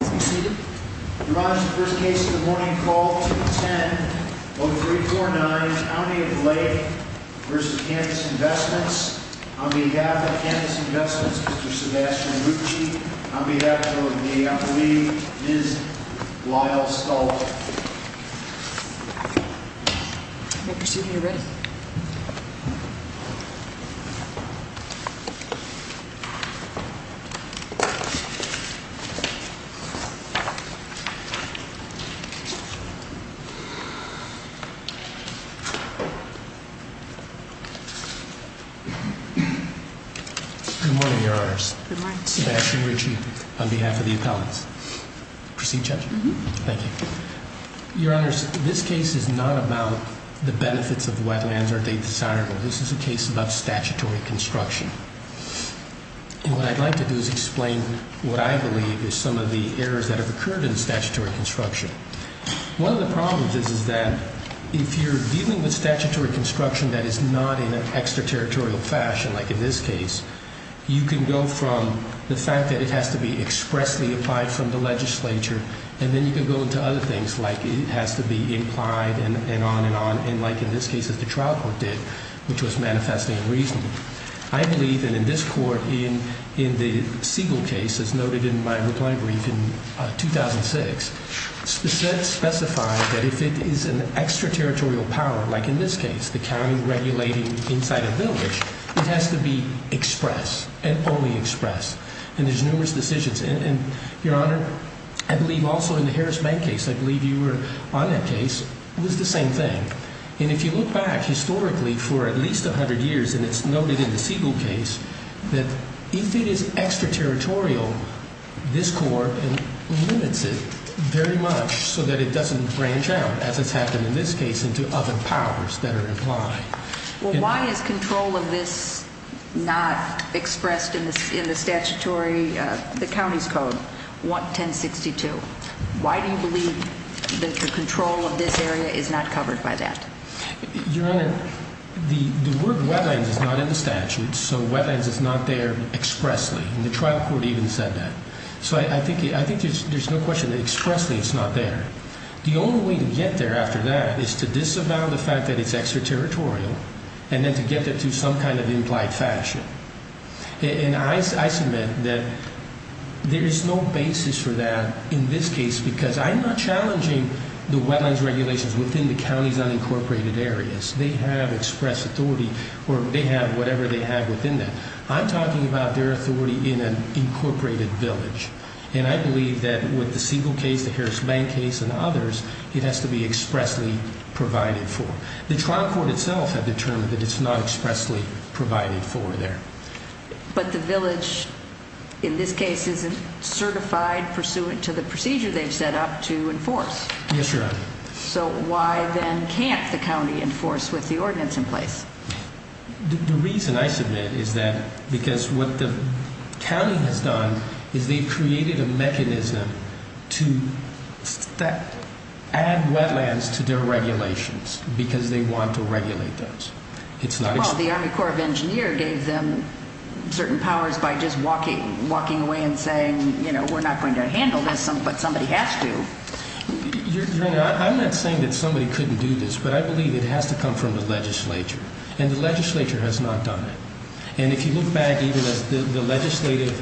On behalf of Campus Investments, Mr. Sebastian Lucci. On behalf of the employee, Ms. Lyle Stultz. Good morning, Your Honors. Sebastian Lucci, on behalf of the appellants. Proceed, Judge. Thank you. Your Honors, this case is not about the benefits of wetlands, are they desirable? This is a case about statutory construction. And what I'd like to do is explain what I believe is some of the errors that have occurred in statutory construction. One of the problems is that if you're dealing with statutory construction that is not in an extraterritorial fashion, like in this case, you can go from the fact that it has to be expressly applied from the legislature, and then you can go into other things, like it has to be implied, and on and on, and like in this case, as the trial court did, which was manifesting reason. I believe that in this court, in the Siegel case, as noted in my reply brief in 2006, specifies that if it is an extraterritorial power, like in this case, the county regulating inside a village, it has to be express, and only express. And there's numerous decisions, and Your Honor, I believe also in the Harris Bank case, I believe you were on that case, it was the same thing. And if you look back historically for at least a hundred years, and it's noted in the Siegel case, that if it is extraterritorial, this court limits it very much so that it doesn't branch out, as has happened in this case, into other powers that are implied. Well, why is control of this not expressed in the statutory, the county's code, 1062? Why do you believe that the control of this area is not covered by that? Your Honor, the word wetlands is not in the statute, so wetlands is not there expressly, and the trial court even said that. So I think there's no question that expressly it's not there. The only way to get there after that is to disavow the fact that it's extraterritorial, and then to get that to some kind of implied fashion. And I submit that there is no basis for that in this case, because I'm not challenging the wetlands regulations within the county's unincorporated areas. They have express authority, or they have whatever they have within them. I'm talking about their authority in an incorporated village. And I believe that with the Siegel case, the Harris Bank case, and others, it has to be expressly provided for. The trial court itself has determined that it's not expressly provided for there. But the village, in this case, isn't certified pursuant to the procedure they've set up to enforce. Yes, Your Honor. So why then can't the county enforce with the ordinance in place? The reason, I submit, is that because what the county has done is they've created a mechanism to add wetlands to their regulations because they want to regulate those. Well, the Army Corps of Engineers gave them certain powers by just walking away and saying, you know, we're not going to handle this, but somebody has to. Your Honor, I'm not saying that somebody couldn't do this, but I believe it has to come from the legislature. And the legislature has not done it. And if you look back, even as the legislative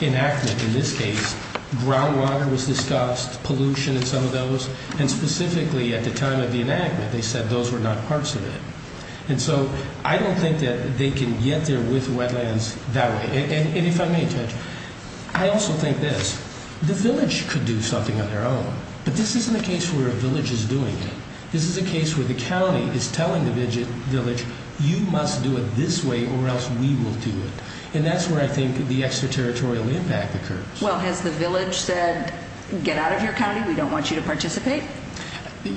enactment in this case, groundwater was discussed, pollution and some of those. And specifically at the time of the enactment, they said those were not parts of it. And so I don't think that they can get there with wetlands that way. And if I may, Judge, I also think this. The village could do something on their own, but this isn't a case where a village is doing it. This is a case where the county is telling the village, you must do it this way or else we will do it. And that's where I think the extraterritorial impact occurs. Well, has the village said, get out of here, county, we don't want you to participate?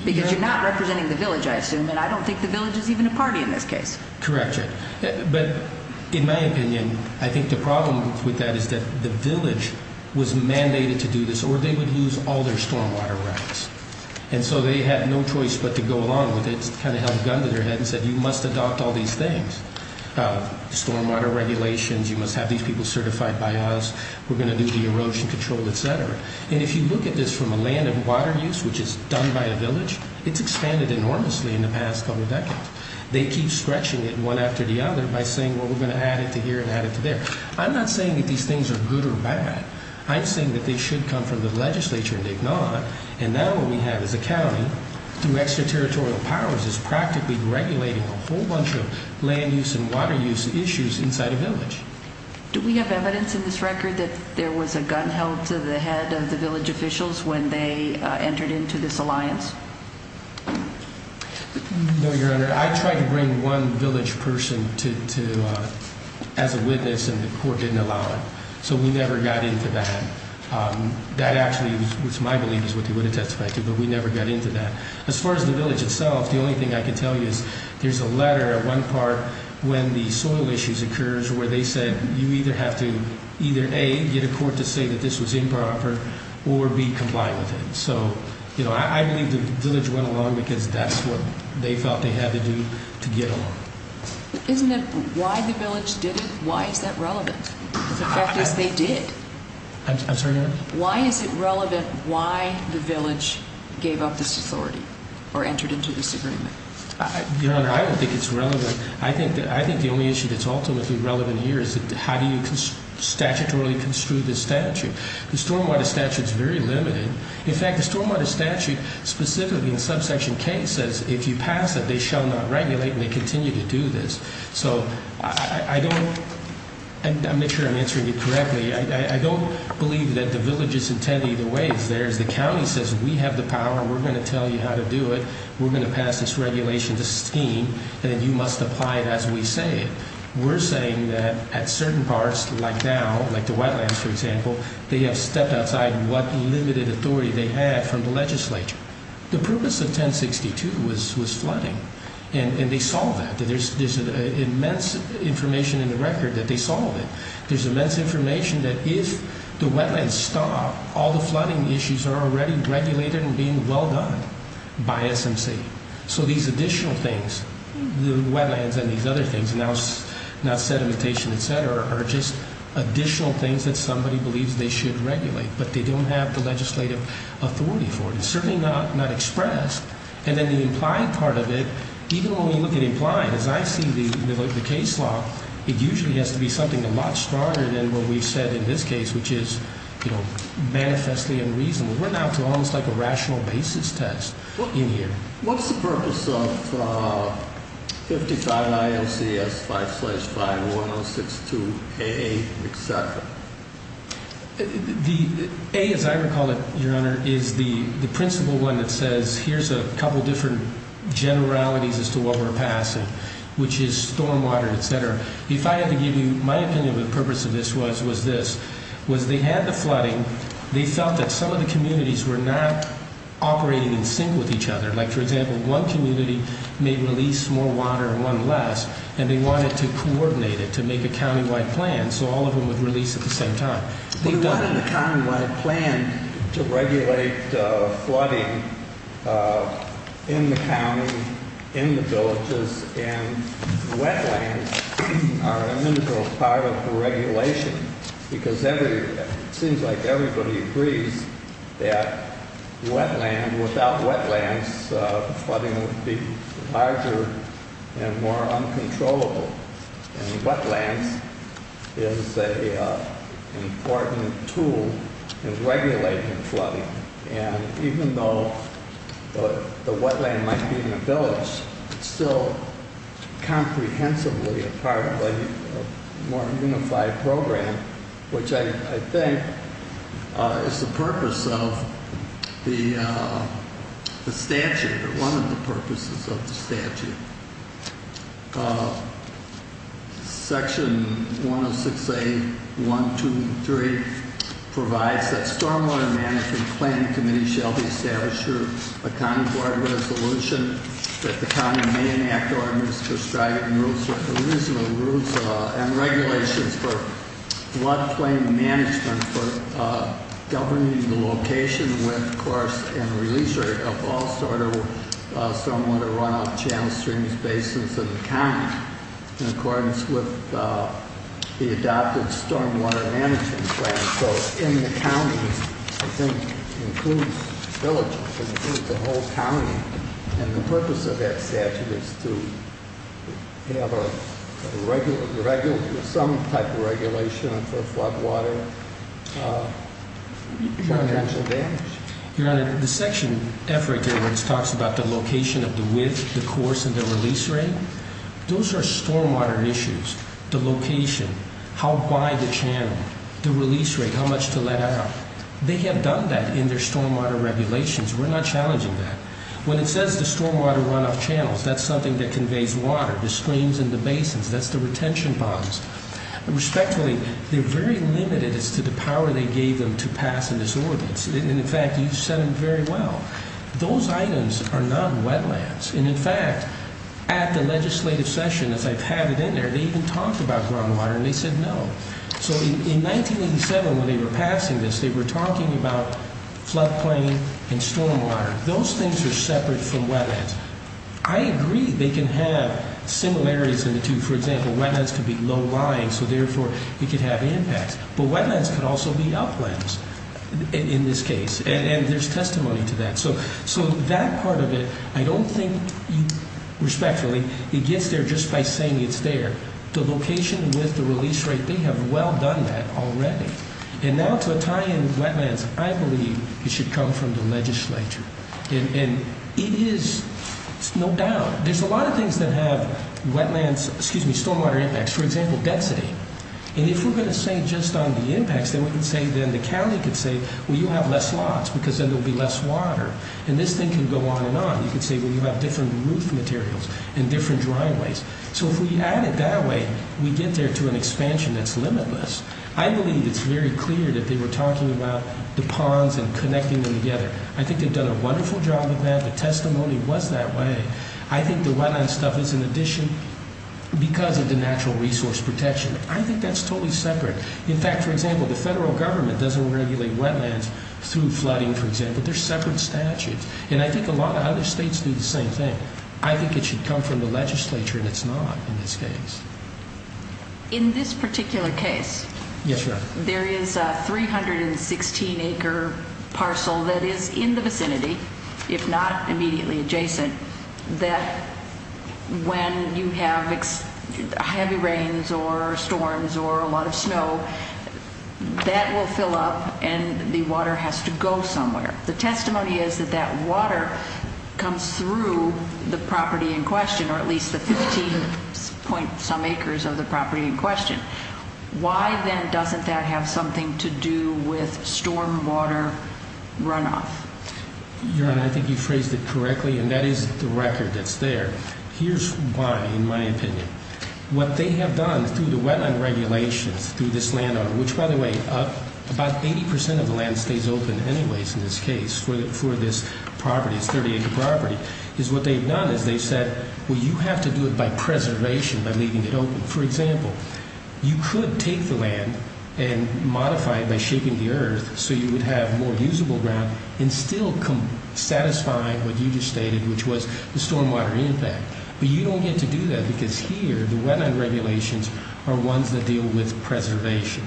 Because you're not representing the village, I assume, and I don't think the village is even a party in this case. Correct, Your Honor. But in my opinion, I think the problem with that is that the village was mandated to do this or they would lose all their stormwater rights. And so they had no choice but to go along with it, kind of held a gun to their head and said, you must adopt all these things, stormwater regulations, you must have these people certified by us, we're going to do the erosion control, et cetera. And if you look at this from a land and water use, which is done by a village, it's expanded enormously in the past couple decades. They keep stretching it one after the other by saying, well, we're going to add it to here and add it to there. I'm not saying that these things are good or bad. I'm saying that they should come from the legislature and they've not. And now what we have is a county through extraterritorial powers is practically regulating a whole bunch of land use and water use issues inside a village. Do we have evidence in this record that there was a gun held to the head of the village officials when they entered into this alliance? No, Your Honor. I tried to bring one village person as a witness and the court didn't allow it. So we never got into that. That actually was my belief is what they would have testified to, but we never got into that. As far as the village itself, the only thing I can tell you is there's a letter at one part when the soil issues occurs where they said you either have to either, A, get a court to say that this was improper, or B, comply with it. So I believe the village went along because that's what they felt they had to do to get along. Isn't it why the village did it? Why is that relevant? The fact is they did. I'm sorry, Your Honor? Why is it relevant why the village gave up this authority or entered into this agreement? Your Honor, I don't think it's relevant. I think the only issue that's ultimately relevant here is how do you statutorily construe this statute? The stormwater statute is very limited. In fact, the stormwater statute specifically in subsection K says if you pass it, they shall not regulate and they continue to do this. So I don't, and I'll make sure I'm answering you correctly, I don't believe that the village's intent either way is theirs. The county says we have the power, we're going to tell you how to do it, we're going to pass this regulation, this scheme, and you must apply it as we say it. We're saying that at certain parts, like now, like the wetlands, for example, they have stepped outside what limited authority they had from the legislature. The purpose of 1062 was flooding, and they solved that. There's immense information in the record that they solved it. There's immense information that if the wetlands stop, all the flooding issues are already regulated and being well done by SMC. So these additional things, the wetlands and these other things, now sedimentation, et cetera, are just additional things that somebody believes they should regulate, but they don't have the legislative authority for it. It's certainly not expressed. And then the implied part of it, even when we look at implied, as I see the case law, it usually has to be something a lot stronger than what we've said in this case, which is manifestly unreasonable. We're now to almost like a rational basis test in here. What's the purpose of 55 ILCS 555-1062-A, et cetera? The A, as I recall it, Your Honor, is the principal one that says, here's a couple different generalities as to what we're passing, which is stormwater, et cetera. If I had to give you my opinion of the purpose of this was this, was they had the flooding. They felt that some of the communities were not operating in sync with each other. Like, for example, one community may release more water and one less, and they wanted to coordinate it to make a countywide plan so all of them would release at the same time. They wanted a countywide plan to regulate flooding in the county, in the villages, and wetlands are an integral part of the regulation, because it seems like everybody agrees that wetland, without wetlands, flooding would be larger and more uncontrollable. And wetlands is an important tool in regulating flooding. And even though the wetland might be in a village, it's still comprehensively a part of a more unified program, which I think is the purpose of the statute, or one of the purposes of the statute. Section 106A.123 provides that stormwater management planning committee shall be established through a county board resolution that the county may enact ordinances prescribing rules for provisional rules and regulations for floodplain management for governing the location, width, course, and release rate of all sort of stormwater runoff, channel streams, basins of the county in accordance with the adopted stormwater management plan. So in the counties, I think includes villages, includes the whole county, and the purpose of that statute is to have some type of regulation for floodwater financial damage. Your Honor, the section F right there where it talks about the location of the width, the course, and the release rate, those are stormwater issues. The location, how wide the channel, the release rate, how much to let out. They have done that in their stormwater regulations. We're not challenging that. When it says the stormwater runoff channels, that's something that conveys water. The streams and the basins, that's the retention ponds. Respectfully, they're very limited as to the power they gave them to pass in this ordinance. And in fact, you've said it very well. Those items are not wetlands. And, in fact, at the legislative session, as I've had it in there, they even talked about groundwater, and they said no. So in 1987 when they were passing this, they were talking about floodplain and stormwater. Those things are separate from wetlands. I agree they can have similarities in the two. For example, wetlands could be low lying, so therefore it could have impacts. But wetlands could also be uplands in this case, and there's testimony to that. So that part of it, I don't think, respectfully, it gets there just by saying it's there. The location with the release rate, they have well done that already. And now to a tie in wetlands, I believe it should come from the legislature. And it is, no doubt. There's a lot of things that have wetlands, excuse me, stormwater impacts. For example, density. And if we're going to say just on the impacts, then we can say, then the county can say, well, you have less slots because then there will be less water. And this thing can go on and on. You can say, well, you have different roof materials and different driveways. So if we add it that way, we get there to an expansion that's limitless. I believe it's very clear that they were talking about the ponds and connecting them together. I think they've done a wonderful job of that. The testimony was that way. I think the wetland stuff is an addition because of the natural resource protection. I think that's totally separate. In fact, for example, the federal government doesn't regulate wetlands through flooding, for example. They're separate statutes. And I think a lot of other states do the same thing. I think it should come from the legislature, and it's not in this case. In this particular case, there is a 316-acre parcel that is in the vicinity, if not immediately adjacent. That when you have heavy rains or storms or a lot of snow, that will fill up and the water has to go somewhere. The testimony is that that water comes through the property in question, or at least the 15-some acres of the property in question. Why then doesn't that have something to do with stormwater runoff? Your Honor, I think you phrased it correctly, and that is the record that's there. Here's why, in my opinion. What they have done through the wetland regulations through this landowner, which, by the way, about 80% of the land stays open anyways in this case for this property, this 30-acre property, is what they've done is they've said, well, you have to do it by preservation, by leaving it open. For example, you could take the land and modify it by shaping the earth so you would have more usable ground and still satisfy what you just stated, which was the stormwater impact. But you don't get to do that because here, the wetland regulations are ones that deal with preservation.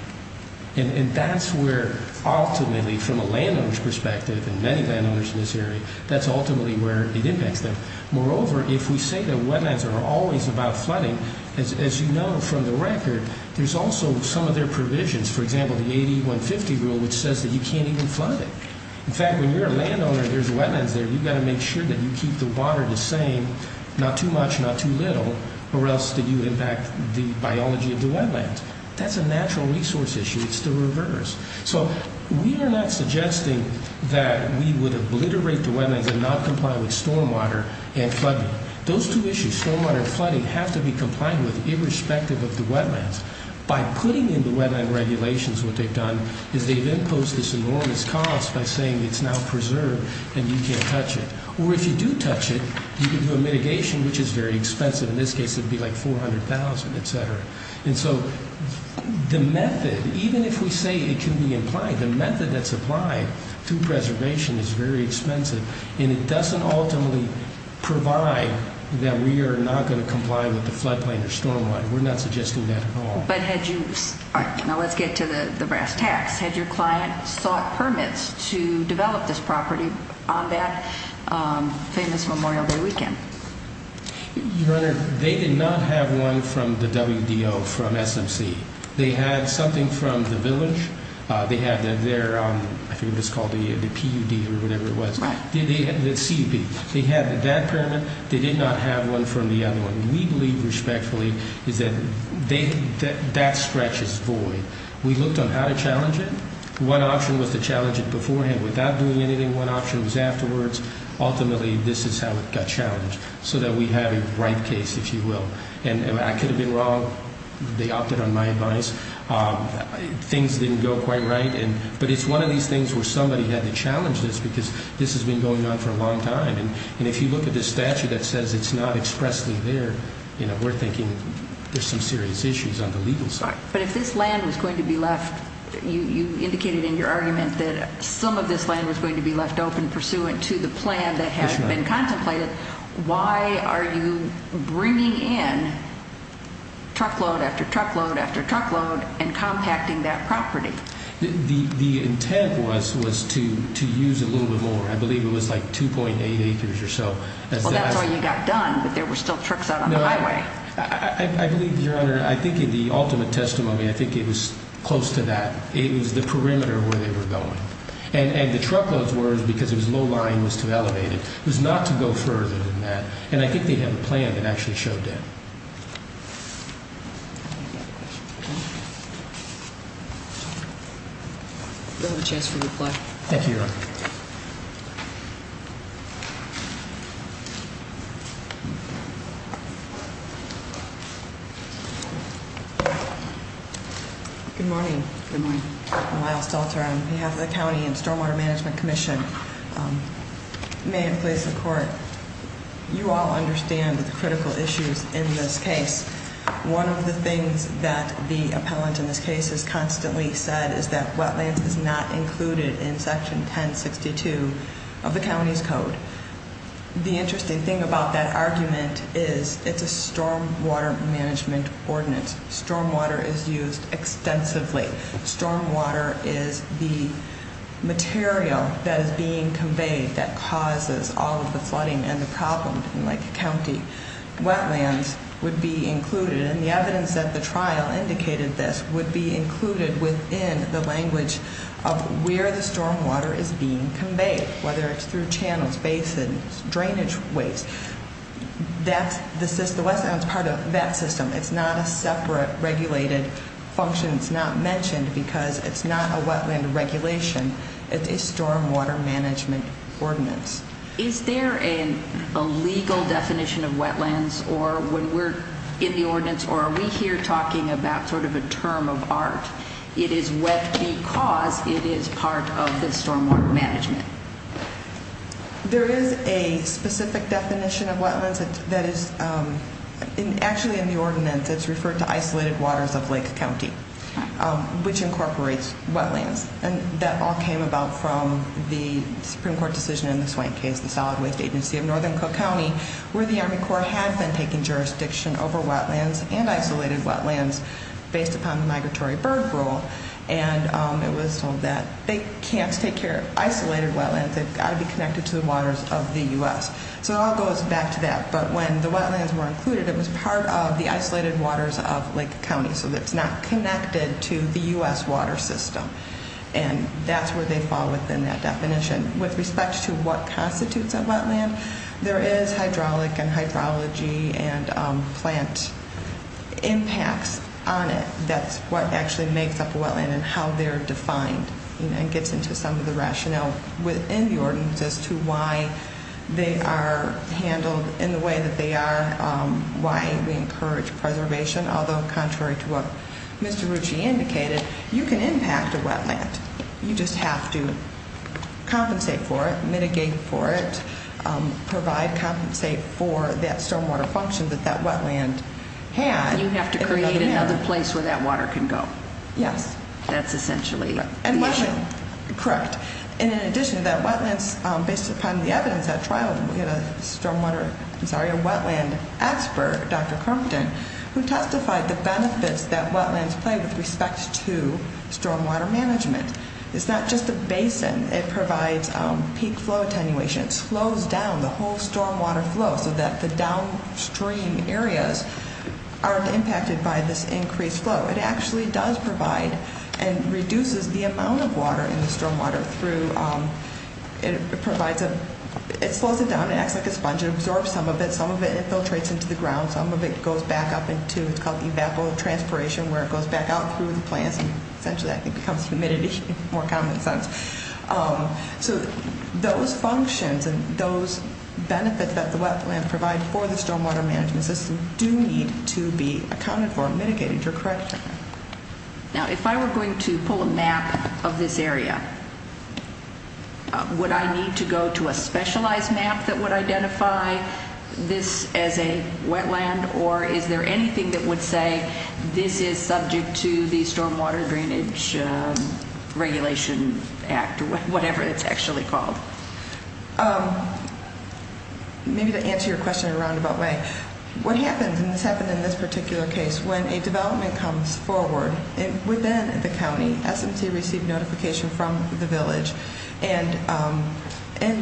That's where, ultimately, from a landowner's perspective, and many landowners in this area, that's ultimately where it impacts them. Moreover, if we say that wetlands are always about flooding, as you know from the record, there's also some of their provisions, for example, the 80-150 rule, which says that you can't even flood it. In fact, when you're a landowner and there's wetlands there, you've got to make sure that you keep the water the same, not too much, not too little, or else you impact the biology of the wetlands. That's a natural resource issue. It's the reverse. So we are not suggesting that we would obliterate the wetlands and not comply with stormwater and flooding. Those two issues, stormwater and flooding, have to be complied with irrespective of the wetlands. By putting in the wetland regulations what they've done is they've imposed this enormous cost by saying it's now preserved and you can't touch it. Or if you do touch it, you can do a mitigation, which is very expensive. In this case, it would be like $400,000, etc. And so the method, even if we say it can be implied, the method that's applied to preservation is very expensive, and it doesn't ultimately provide that we are not going to comply with the floodplain or stormwater. We're not suggesting that at all. Now let's get to the brass tacks. Had your client sought permits to develop this property on that famous Memorial Day weekend? Your Honor, they did not have one from the WDO from SMC. They had something from the village. They had their, I think it was called the PUD or whatever it was, the CB. They had that permit. They did not have one from the other one. We believe respectfully that that stretch is void. We looked on how to challenge it. One option was to challenge it beforehand without doing anything. One option was afterwards. Ultimately, this is how it got challenged, so that we have a right case, if you will. And I could have been wrong. They opted on my advice. Things didn't go quite right. But it's one of these things where somebody had to challenge this because this has been going on for a long time. And if you look at this statute that says it's not expressly there, we're thinking there's some serious issues on the legal side. But if this land was going to be left, you indicated in your argument that some of this land was going to be left open pursuant to the plan that had been contemplated, why are you bringing in truckload after truckload after truckload and compacting that property? The intent was to use a little bit more. I believe it was like 2.8 acres or so. Well, that's all you got done, but there were still trucks out on the highway. I believe, Your Honor, I think the ultimate testimony, I think it was close to that. It was the perimeter where they were going. And the truckloads were because it was low-lying, it was too elevated. It was not to go further than that. And I think they had a plan that actually showed that. You'll have a chance for reply. Thank you, Your Honor. Good morning. Good morning. I'm Lyle Stalter on behalf of the County and Stormwater Management Commission. May it please the Court, you all understand the critical issues in this case. One of the things that the appellant in this case has constantly said is that wetlands is not included in Section 1062 of the county's code. The interesting thing about that argument is it's a stormwater management ordinance. Stormwater is used extensively. Stormwater is the material that is being conveyed that causes all of the flooding and the problem in Lake County. Wetlands would be included. And the evidence that the trial indicated this would be included within the language of where the stormwater is being conveyed, whether it's through channels, basins, drainage ways. The wetlands is part of that system. It's not a separate regulated function. It's not mentioned because it's not a wetland regulation. It's a stormwater management ordinance. Is there a legal definition of wetlands or when we're in the ordinance or are we here talking about sort of a term of art? It is wet because it is part of the stormwater management. There is a specific definition of wetlands that is actually in the ordinance. It's referred to isolated waters of Lake County, which incorporates wetlands. And that all came about from the Supreme Court decision in the Swank case, the Solid Waste Agency of Northern Cook County, where the Army Corps had been taking jurisdiction over wetlands and isolated wetlands based upon the migratory bird rule. And it was told that they can't take care of isolated wetlands. They've got to be connected to the waters of the U.S. So it all goes back to that. But when the wetlands were included, it was part of the isolated waters of Lake County. So it's not connected to the U.S. water system. And that's where they fall within that definition. With respect to what constitutes a wetland, there is hydraulic and hydrology and plant impacts on it. That's what actually makes up a wetland and how they're defined. And it gets into some of the rationale within the ordinance as to why they are handled in the way that they are, and why we encourage preservation, although contrary to what Mr. Rucci indicated, you can impact a wetland. You just have to compensate for it, mitigate for it, provide compensate for that stormwater function that that wetland had. You have to create another place where that water can go. Yes. That's essentially the issue. Correct. And in addition to that, based upon the evidence at trial, we had a wetland expert, Dr. Crompton, who testified the benefits that wetlands play with respect to stormwater management. It's not just a basin. It provides peak flow attenuation. It slows down the whole stormwater flow so that the downstream areas aren't impacted by this increased flow. It actually does provide and reduces the amount of water in the stormwater. It slows it down. It acts like a sponge. It absorbs some of it. Some of it infiltrates into the ground. Some of it goes back up into what's called evapotranspiration, where it goes back out through the plants and essentially, I think, becomes humidity, more common sense. So those functions and those benefits that the wetlands provide for the stormwater management system do need to be accounted for and mitigated. You're correct. Now, if I were going to pull a map of this area, would I need to go to a specialized map that would identify this as a wetland? Or is there anything that would say this is subject to the Stormwater Drainage Regulation Act or whatever it's actually called? Maybe to answer your question in a roundabout way, what happens, and this happened in this particular case, when a development comes forward within the county, SMC received notification from the village, and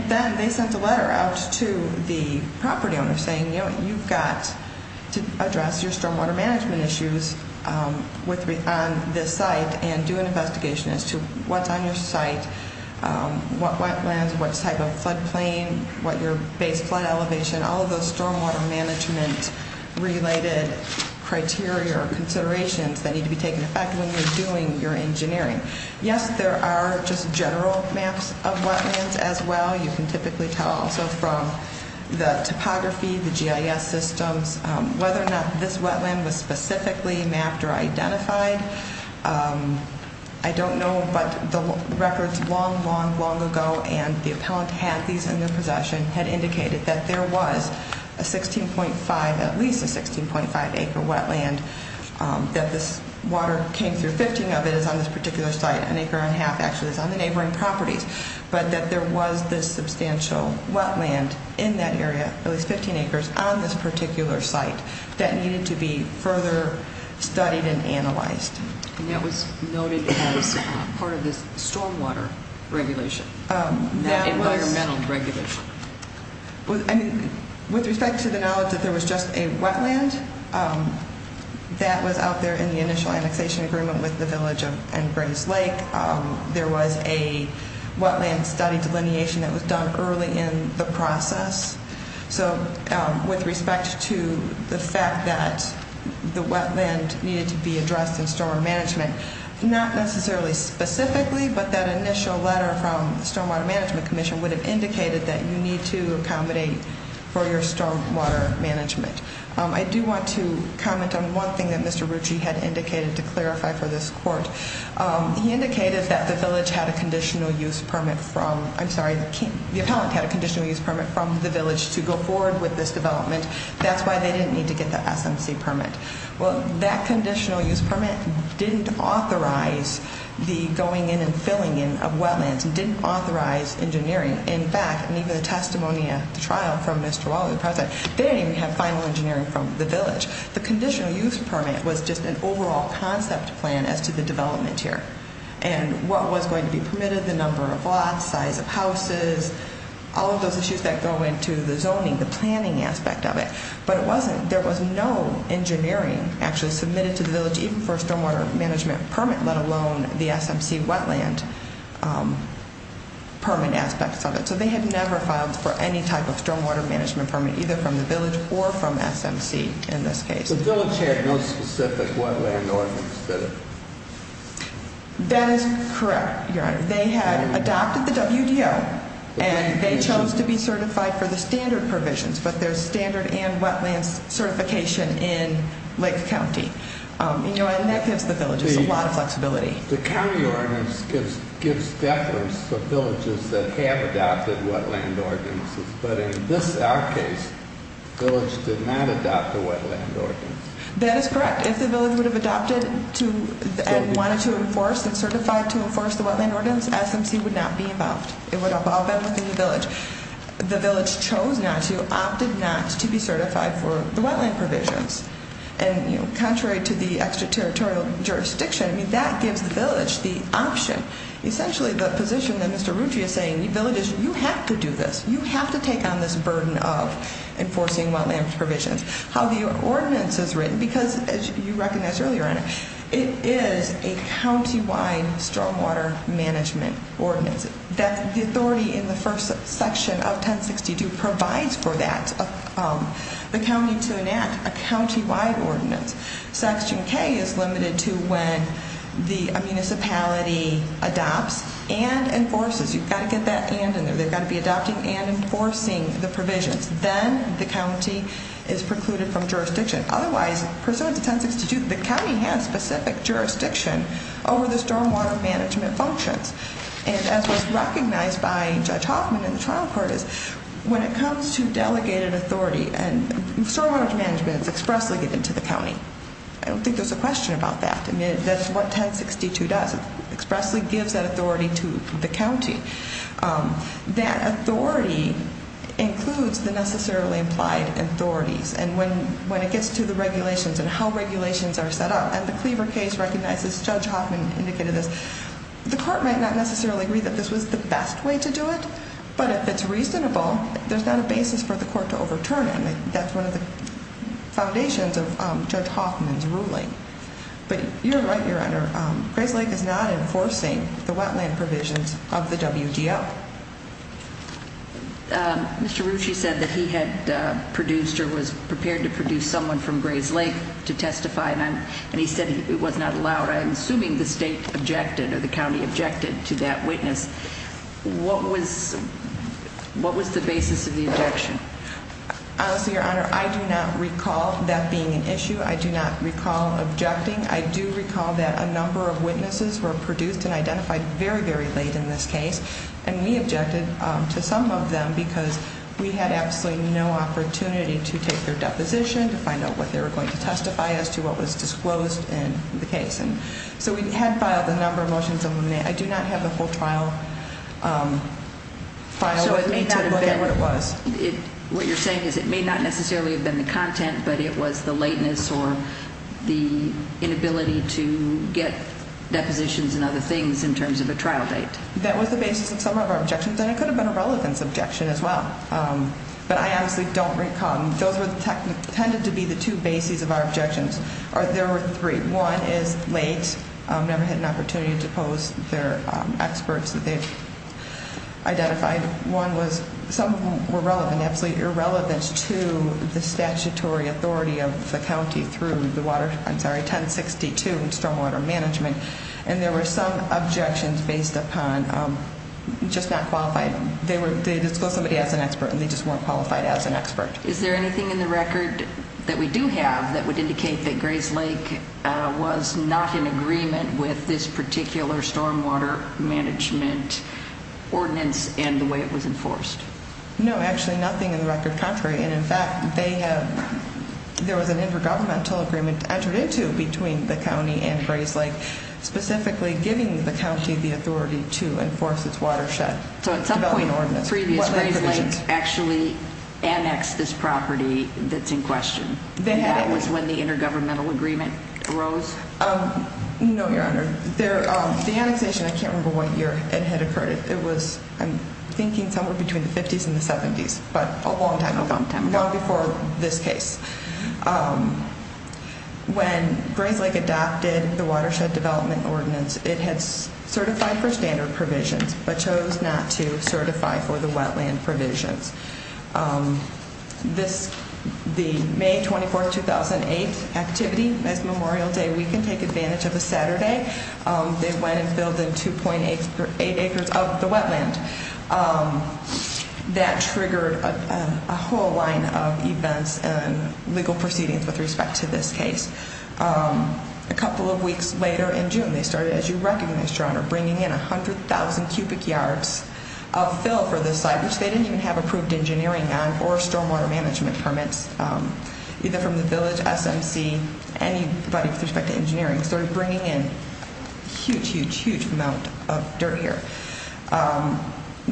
then they sent a letter out to the property owner saying, you know, you've got to address your stormwater management issues on this site and do an investigation as to what's on your site, what wetlands, what type of floodplain, what your base flood elevation, all of those stormwater management-related criteria or considerations that need to be taken into effect when you're doing your engineering. Yes, there are just general maps of wetlands as well. You can typically tell also from the topography, the GIS systems, whether or not this wetland was specifically mapped or identified. I don't know, but the records long, long, long ago, and the appellant had these in their possession, had indicated that there was a 16.5, at least a 16.5-acre wetland, that this water came through, 15 of it is on this particular site, an acre and a half actually is on the neighboring properties, but that there was this substantial wetland in that area, at least 15 acres, on this particular site that needed to be further studied and analyzed. And that was noted as part of this stormwater regulation, not environmental regulation. With respect to the knowledge that there was just a wetland, that was out there in the initial annexation agreement with the village and Grays Lake. There was a wetland study delineation that was done early in the process. So with respect to the fact that the wetland needed to be addressed in stormwater management, not necessarily specifically, but that initial letter from the Stormwater Management Commission would have indicated that you need to accommodate for your stormwater management. I do want to comment on one thing that Mr. Rucci had indicated to clarify for this court. He indicated that the village had a conditional use permit from, I'm sorry, the appellant had a conditional use permit from the village to go forward with this development. That's why they didn't need to get the SMC permit. Well, that conditional use permit didn't authorize the going in and filling in of wetlands, and didn't authorize engineering. In fact, in even the testimony at the trial from Mr. Waller, the president, they didn't even have final engineering from the village. The conditional use permit was just an overall concept plan as to the development here and what was going to be permitted, the number of lots, size of houses, all of those issues that go into the zoning, the planning aspect of it. But it wasn't, there was no engineering actually submitted to the village, even for a stormwater management permit, let alone the SMC wetland permit aspects of it. So they had never filed for any type of stormwater management permit, either from the village or from SMC in this case. The village had no specific wetland ordinance, did it? That is correct, Your Honor. They had adopted the WDO, and they chose to be certified for the standard provisions, but there's standard and wetlands certification in Lake County. And that gives the village a lot of flexibility. The county ordinance gives deference to villages that have adopted wetland ordinances, but in this, our case, the village did not adopt the wetland ordinance. That is correct. If the village would have adopted and wanted to enforce and certify to enforce the wetland ordinance, SMC would not be involved. It would involve them within the village. The village chose not to, opted not to be certified for the wetland provisions. And, you know, contrary to the extraterritorial jurisdiction, that gives the village the option, essentially the position that Mr. Rucci is saying, you villages, you have to do this. You have to take on this burden of enforcing wetland provisions. How the ordinance is written, because as you recognized earlier, Your Honor, it is a county-wide stormwater management ordinance. The authority in the first section of 1062 provides for that, the county to enact a county-wide ordinance. Section K is limited to when the municipality adopts and enforces. You've got to get that and in there. They've got to be adopting and enforcing the provisions. Then the county is precluded from jurisdiction. Otherwise, pursuant to 1062, the county has specific jurisdiction over the stormwater management functions. And as was recognized by Judge Hoffman in the trial court is when it comes to delegated authority and stormwater management is expressly given to the county. I don't think there's a question about that. I mean, that's what 1062 does. It expressly gives that authority to the county. That authority includes the necessarily implied authorities. And when it gets to the regulations and how regulations are set up, and the Cleaver case recognizes, Judge Hoffman indicated this, the court might not necessarily agree that this was the best way to do it, but if it's reasonable, there's not a basis for the court to overturn it. That's one of the foundations of Judge Hoffman's ruling. But you're right, Your Honor, Grayslake is not enforcing the wetland provisions of the WGO. Mr. Rucci said that he had produced or was prepared to produce someone from Grayslake to testify, and he said it was not allowed. I'm assuming the state objected or the county objected to that witness. What was the basis of the objection? Honestly, Your Honor, I do not recall that being an issue. I do not recall objecting. I do recall that a number of witnesses were produced and identified very, very late in this case, and we objected to some of them because we had absolutely no opportunity to take their deposition, to find out what they were going to testify as to what was disclosed in the case. So we had filed a number of motions. I do not have the full trial file with me to look at what it was. What you're saying is it may not necessarily have been the content, but it was the lateness or the inability to get depositions and other things in terms of a trial date. That was the basis of some of our objections, and it could have been a relevance objection as well. But I honestly don't recall. Those tended to be the two bases of our objections. There were three. One is late, never had an opportunity to pose their experts that they've identified. One was some were relevant, absolutely irrelevant to the statutory authority of the county through the water, I'm sorry, 1062 in stormwater management. And there were some objections based upon just not qualified. They disclosed somebody as an expert, and they just weren't qualified as an expert. Is there anything in the record that we do have that would indicate that Grays Lake was not in agreement with this particular stormwater management ordinance and the way it was enforced? No, actually nothing in the record contrary. And, in fact, there was an intergovernmental agreement entered into between the county and Grays Lake, specifically giving the county the authority to enforce its watershed development ordinance. So at some point previous Grays Lake actually annexed this property that's in question. That was when the intergovernmental agreement arose? No, Your Honor. The annexation, I can't remember what year it had occurred. It was, I'm thinking somewhere between the 50s and the 70s, but a long time ago, long before this case. When Grays Lake adopted the watershed development ordinance, it had certified for standard provisions, but chose not to certify for the wetland provisions. The May 24, 2008 activity, as Memorial Day, we can take advantage of a Saturday, they went and filled in 2.8 acres of the wetland. That triggered a whole line of events and legal proceedings with respect to this case. A couple of weeks later in June, they started, as you recognize, Your Honor, bringing in 100,000 cubic yards of fill for this site, which they didn't even have approved engineering on or stormwater management permits, either from the village, SMC, anybody with respect to engineering. They started bringing in a huge, huge, huge amount of dirt here.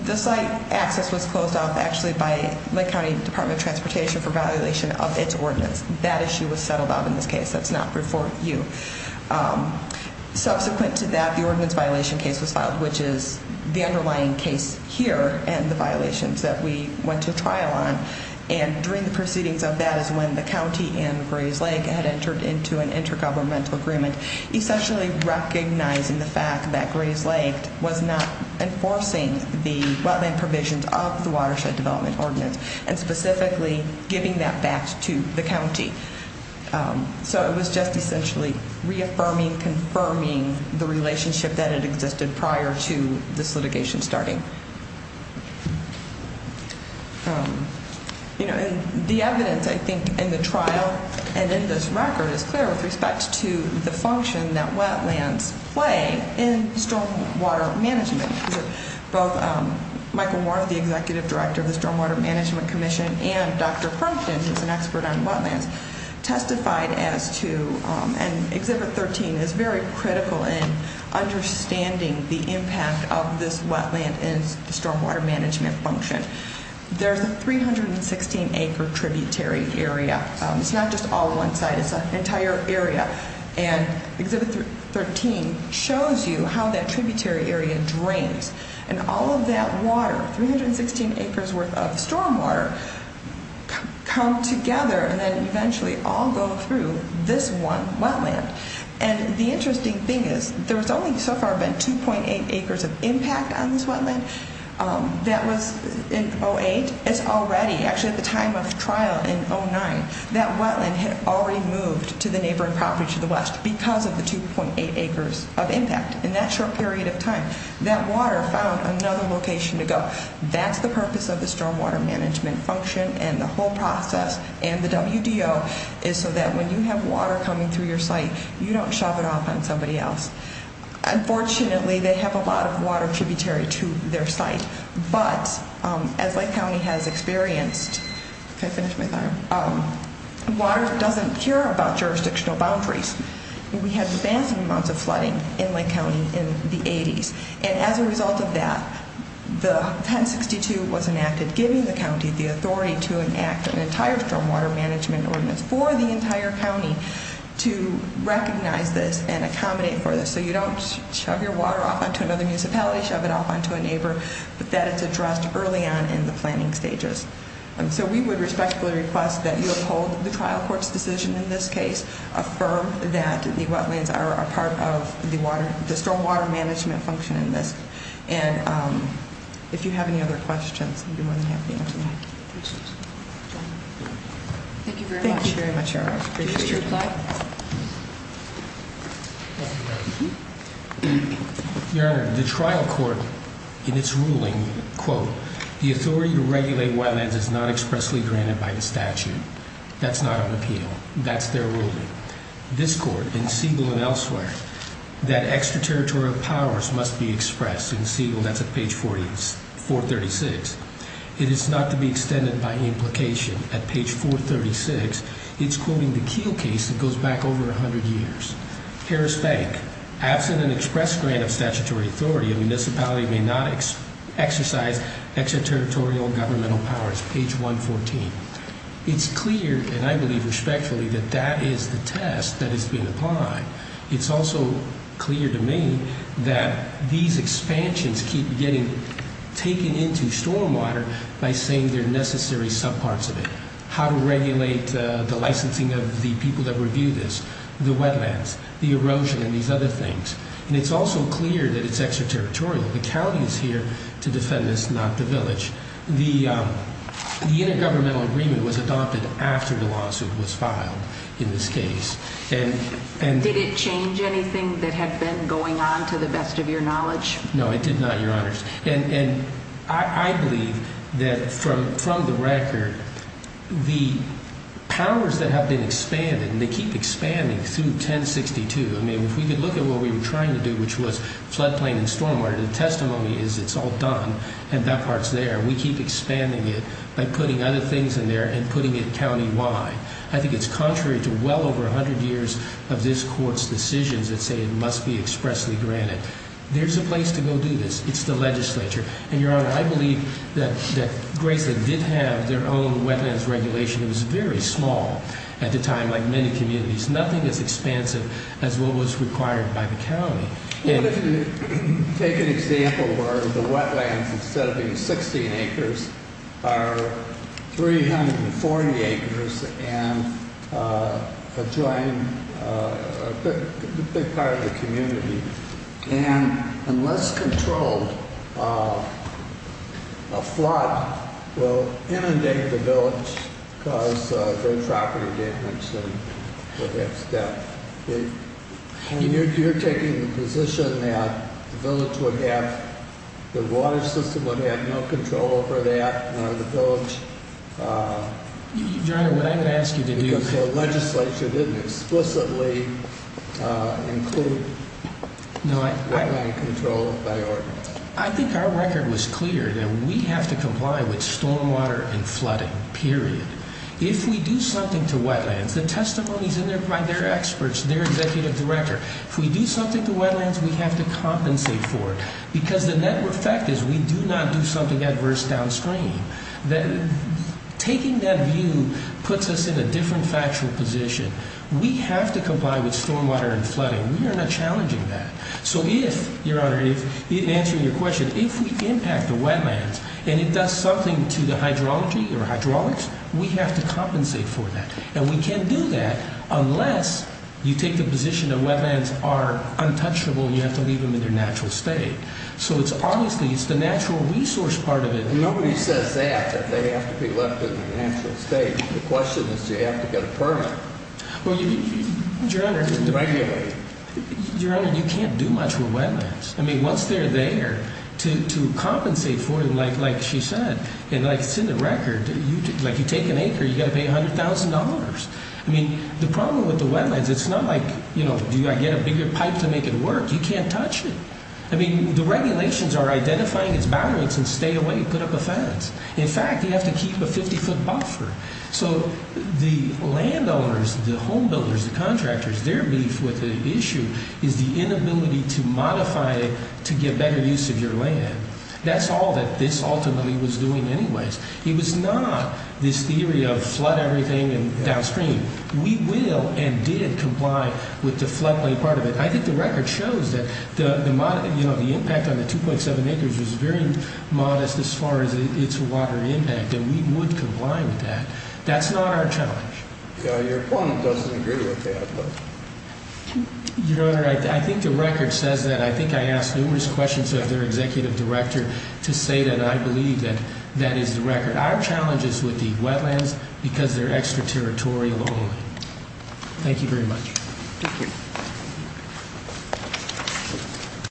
The site access was closed off, actually, by Lake County Department of Transportation for validation of its ordinance. That issue was settled out in this case. That's not before you. Subsequent to that, the ordinance violation case was filed, which is the underlying case here and the violations that we went to trial on. During the proceedings of that is when the county and Grays Lake had entered into an intergovernmental agreement, essentially recognizing the fact that Grays Lake was not enforcing the wetland provisions of the Watershed Development Ordinance and specifically giving that back to the county. It was just essentially reaffirming, confirming the relationship that had existed prior to this litigation starting. The evidence, I think, in the trial and in this record is clear with respect to the function that wetlands play in stormwater management. Both Michael Moore, the Executive Director of the Stormwater Management Commission, and Dr. Crompton, who's an expert on wetlands, testified as to, and Exhibit 13 is very critical in understanding the impact of this wetland in stormwater management function. There's a 316-acre tributary area. It's not just all one site. It's an entire area. And Exhibit 13 shows you how that tributary area drains. And all of that water, 316 acres worth of stormwater, come together and then eventually all go through this one wetland. And the interesting thing is there's only so far been 2.8 acres of impact on this wetland. That was in 2008. It's already, actually at the time of trial in 2009, that wetland had already moved to the neighboring property to the west because of the 2.8 acres of impact. In that short period of time, that water found another location to go. That's the purpose of the stormwater management function and the whole process. And the WDO is so that when you have water coming through your site, you don't shove it off on somebody else. Unfortunately, they have a lot of water tributary to their site. But, as Lake County has experienced, water doesn't care about jurisdictional boundaries. We had massive amounts of flooding in Lake County in the 80s. And as a result of that, the 1062 was enacted, giving the county the authority to enact an entire stormwater management ordinance for the entire county to recognize this and accommodate for this. So you don't shove your water off onto another municipality, shove it off onto a neighbor. But that is addressed early on in the planning stages. So we would respectfully request that you uphold the trial court's decision in this case, affirm that the wetlands are a part of the stormwater management function in this. And if you have any other questions, I'd be more than happy to answer them. Thank you very much. Thank you very much, Your Honor. Your Honor, the trial court, in its ruling, quote, the authority to regulate wetlands is not expressly granted by the statute. That's not on appeal. That's their ruling. This court, in Siegel and elsewhere, that extraterritorial powers must be expressed. In Siegel, that's at page 436. It is not to be extended by implication. At page 436, it's quoting the Keel case that goes back over 100 years. Harris Bank, absent an express grant of statutory authority, a municipality may not exercise extraterritorial governmental powers, page 114. It's clear, and I believe respectfully, that that is the test that is being applied. It's also clear to me that these expansions keep getting taken into stormwater by saying there are necessary subparts of it, how to regulate the licensing of the people that review this, the wetlands, the erosion, and these other things. And it's also clear that it's extraterritorial. The county is here to defend this, not the village. The intergovernmental agreement was adopted after the lawsuit was filed in this case. Did it change anything that had been going on, to the best of your knowledge? No, it did not, Your Honors. And I believe that, from the record, the powers that have been expanded, and they keep expanding through 1062. I mean, if we could look at what we were trying to do, which was floodplain and stormwater, the testimony is it's all done and that part's there. We keep expanding it by putting other things in there and putting it countywide. I think it's contrary to well over 100 years of this court's decisions that say it must be expressly granted. There's a place to go do this. It's the legislature. And, Your Honor, I believe that Graceland did have their own wetlands regulation. It was very small at the time, like many communities. Nothing as expansive as what was required by the county. Take an example where the wetlands, instead of being 16 acres, are 340 acres and adjoining a big part of the community. And unless controlled, a flood will inundate the village, cause great property damage. And you're taking the position that the village would have, the water system would have no control over that, nor the village. Your Honor, what I'm going to ask you to do is... Because the legislature didn't explicitly include wetland control by ordinance. I think our record was clear that we have to comply with stormwater and flooding, period. If we do something to wetlands, the testimony is in there by their experts, their executive director. If we do something to wetlands, we have to compensate for it. Because the net effect is we do not do something adverse downstream. Taking that view puts us in a different factual position. We have to comply with stormwater and flooding. We are not challenging that. So if, Your Honor, in answering your question, if we impact the wetlands and it does something to the hydrology or hydraulics, we have to compensate for that. And we can't do that unless you take the position that wetlands are untouchable and you have to leave them in their natural state. So it's obviously, it's the natural resource part of it. Nobody says that, that they have to be left in their natural state. The question is, do you have to get a permit to regulate? Your Honor, you can't do much with wetlands. I mean, once they're there, to compensate for them, like she said, and like it's in the record, like you take an acre, you've got to pay $100,000. I mean, the problem with the wetlands, it's not like, you know, do you get a bigger pipe to make it work? You can't touch it. I mean, the regulations are identifying its boundaries and stay away, put up a fence. In fact, you have to keep a 50-foot buffer. So the landowners, the home builders, the contractors, their beef with the issue is the inability to modify it to get better use of your land. That's all that this ultimately was doing anyways. It was not this theory of flood everything and downstream. We will and did comply with the floodplain part of it. I think the record shows that the impact on the 2.7 acres was very modest as far as its water impact, and we would comply with that. That's not our challenge. Your opponent doesn't agree with that. Your Honor, I think the record says that. I think I asked numerous questions of their executive director to say that I believe that that is the record. Our challenge is with the wetlands because they're extraterritorial only. Thank you very much. Thank you.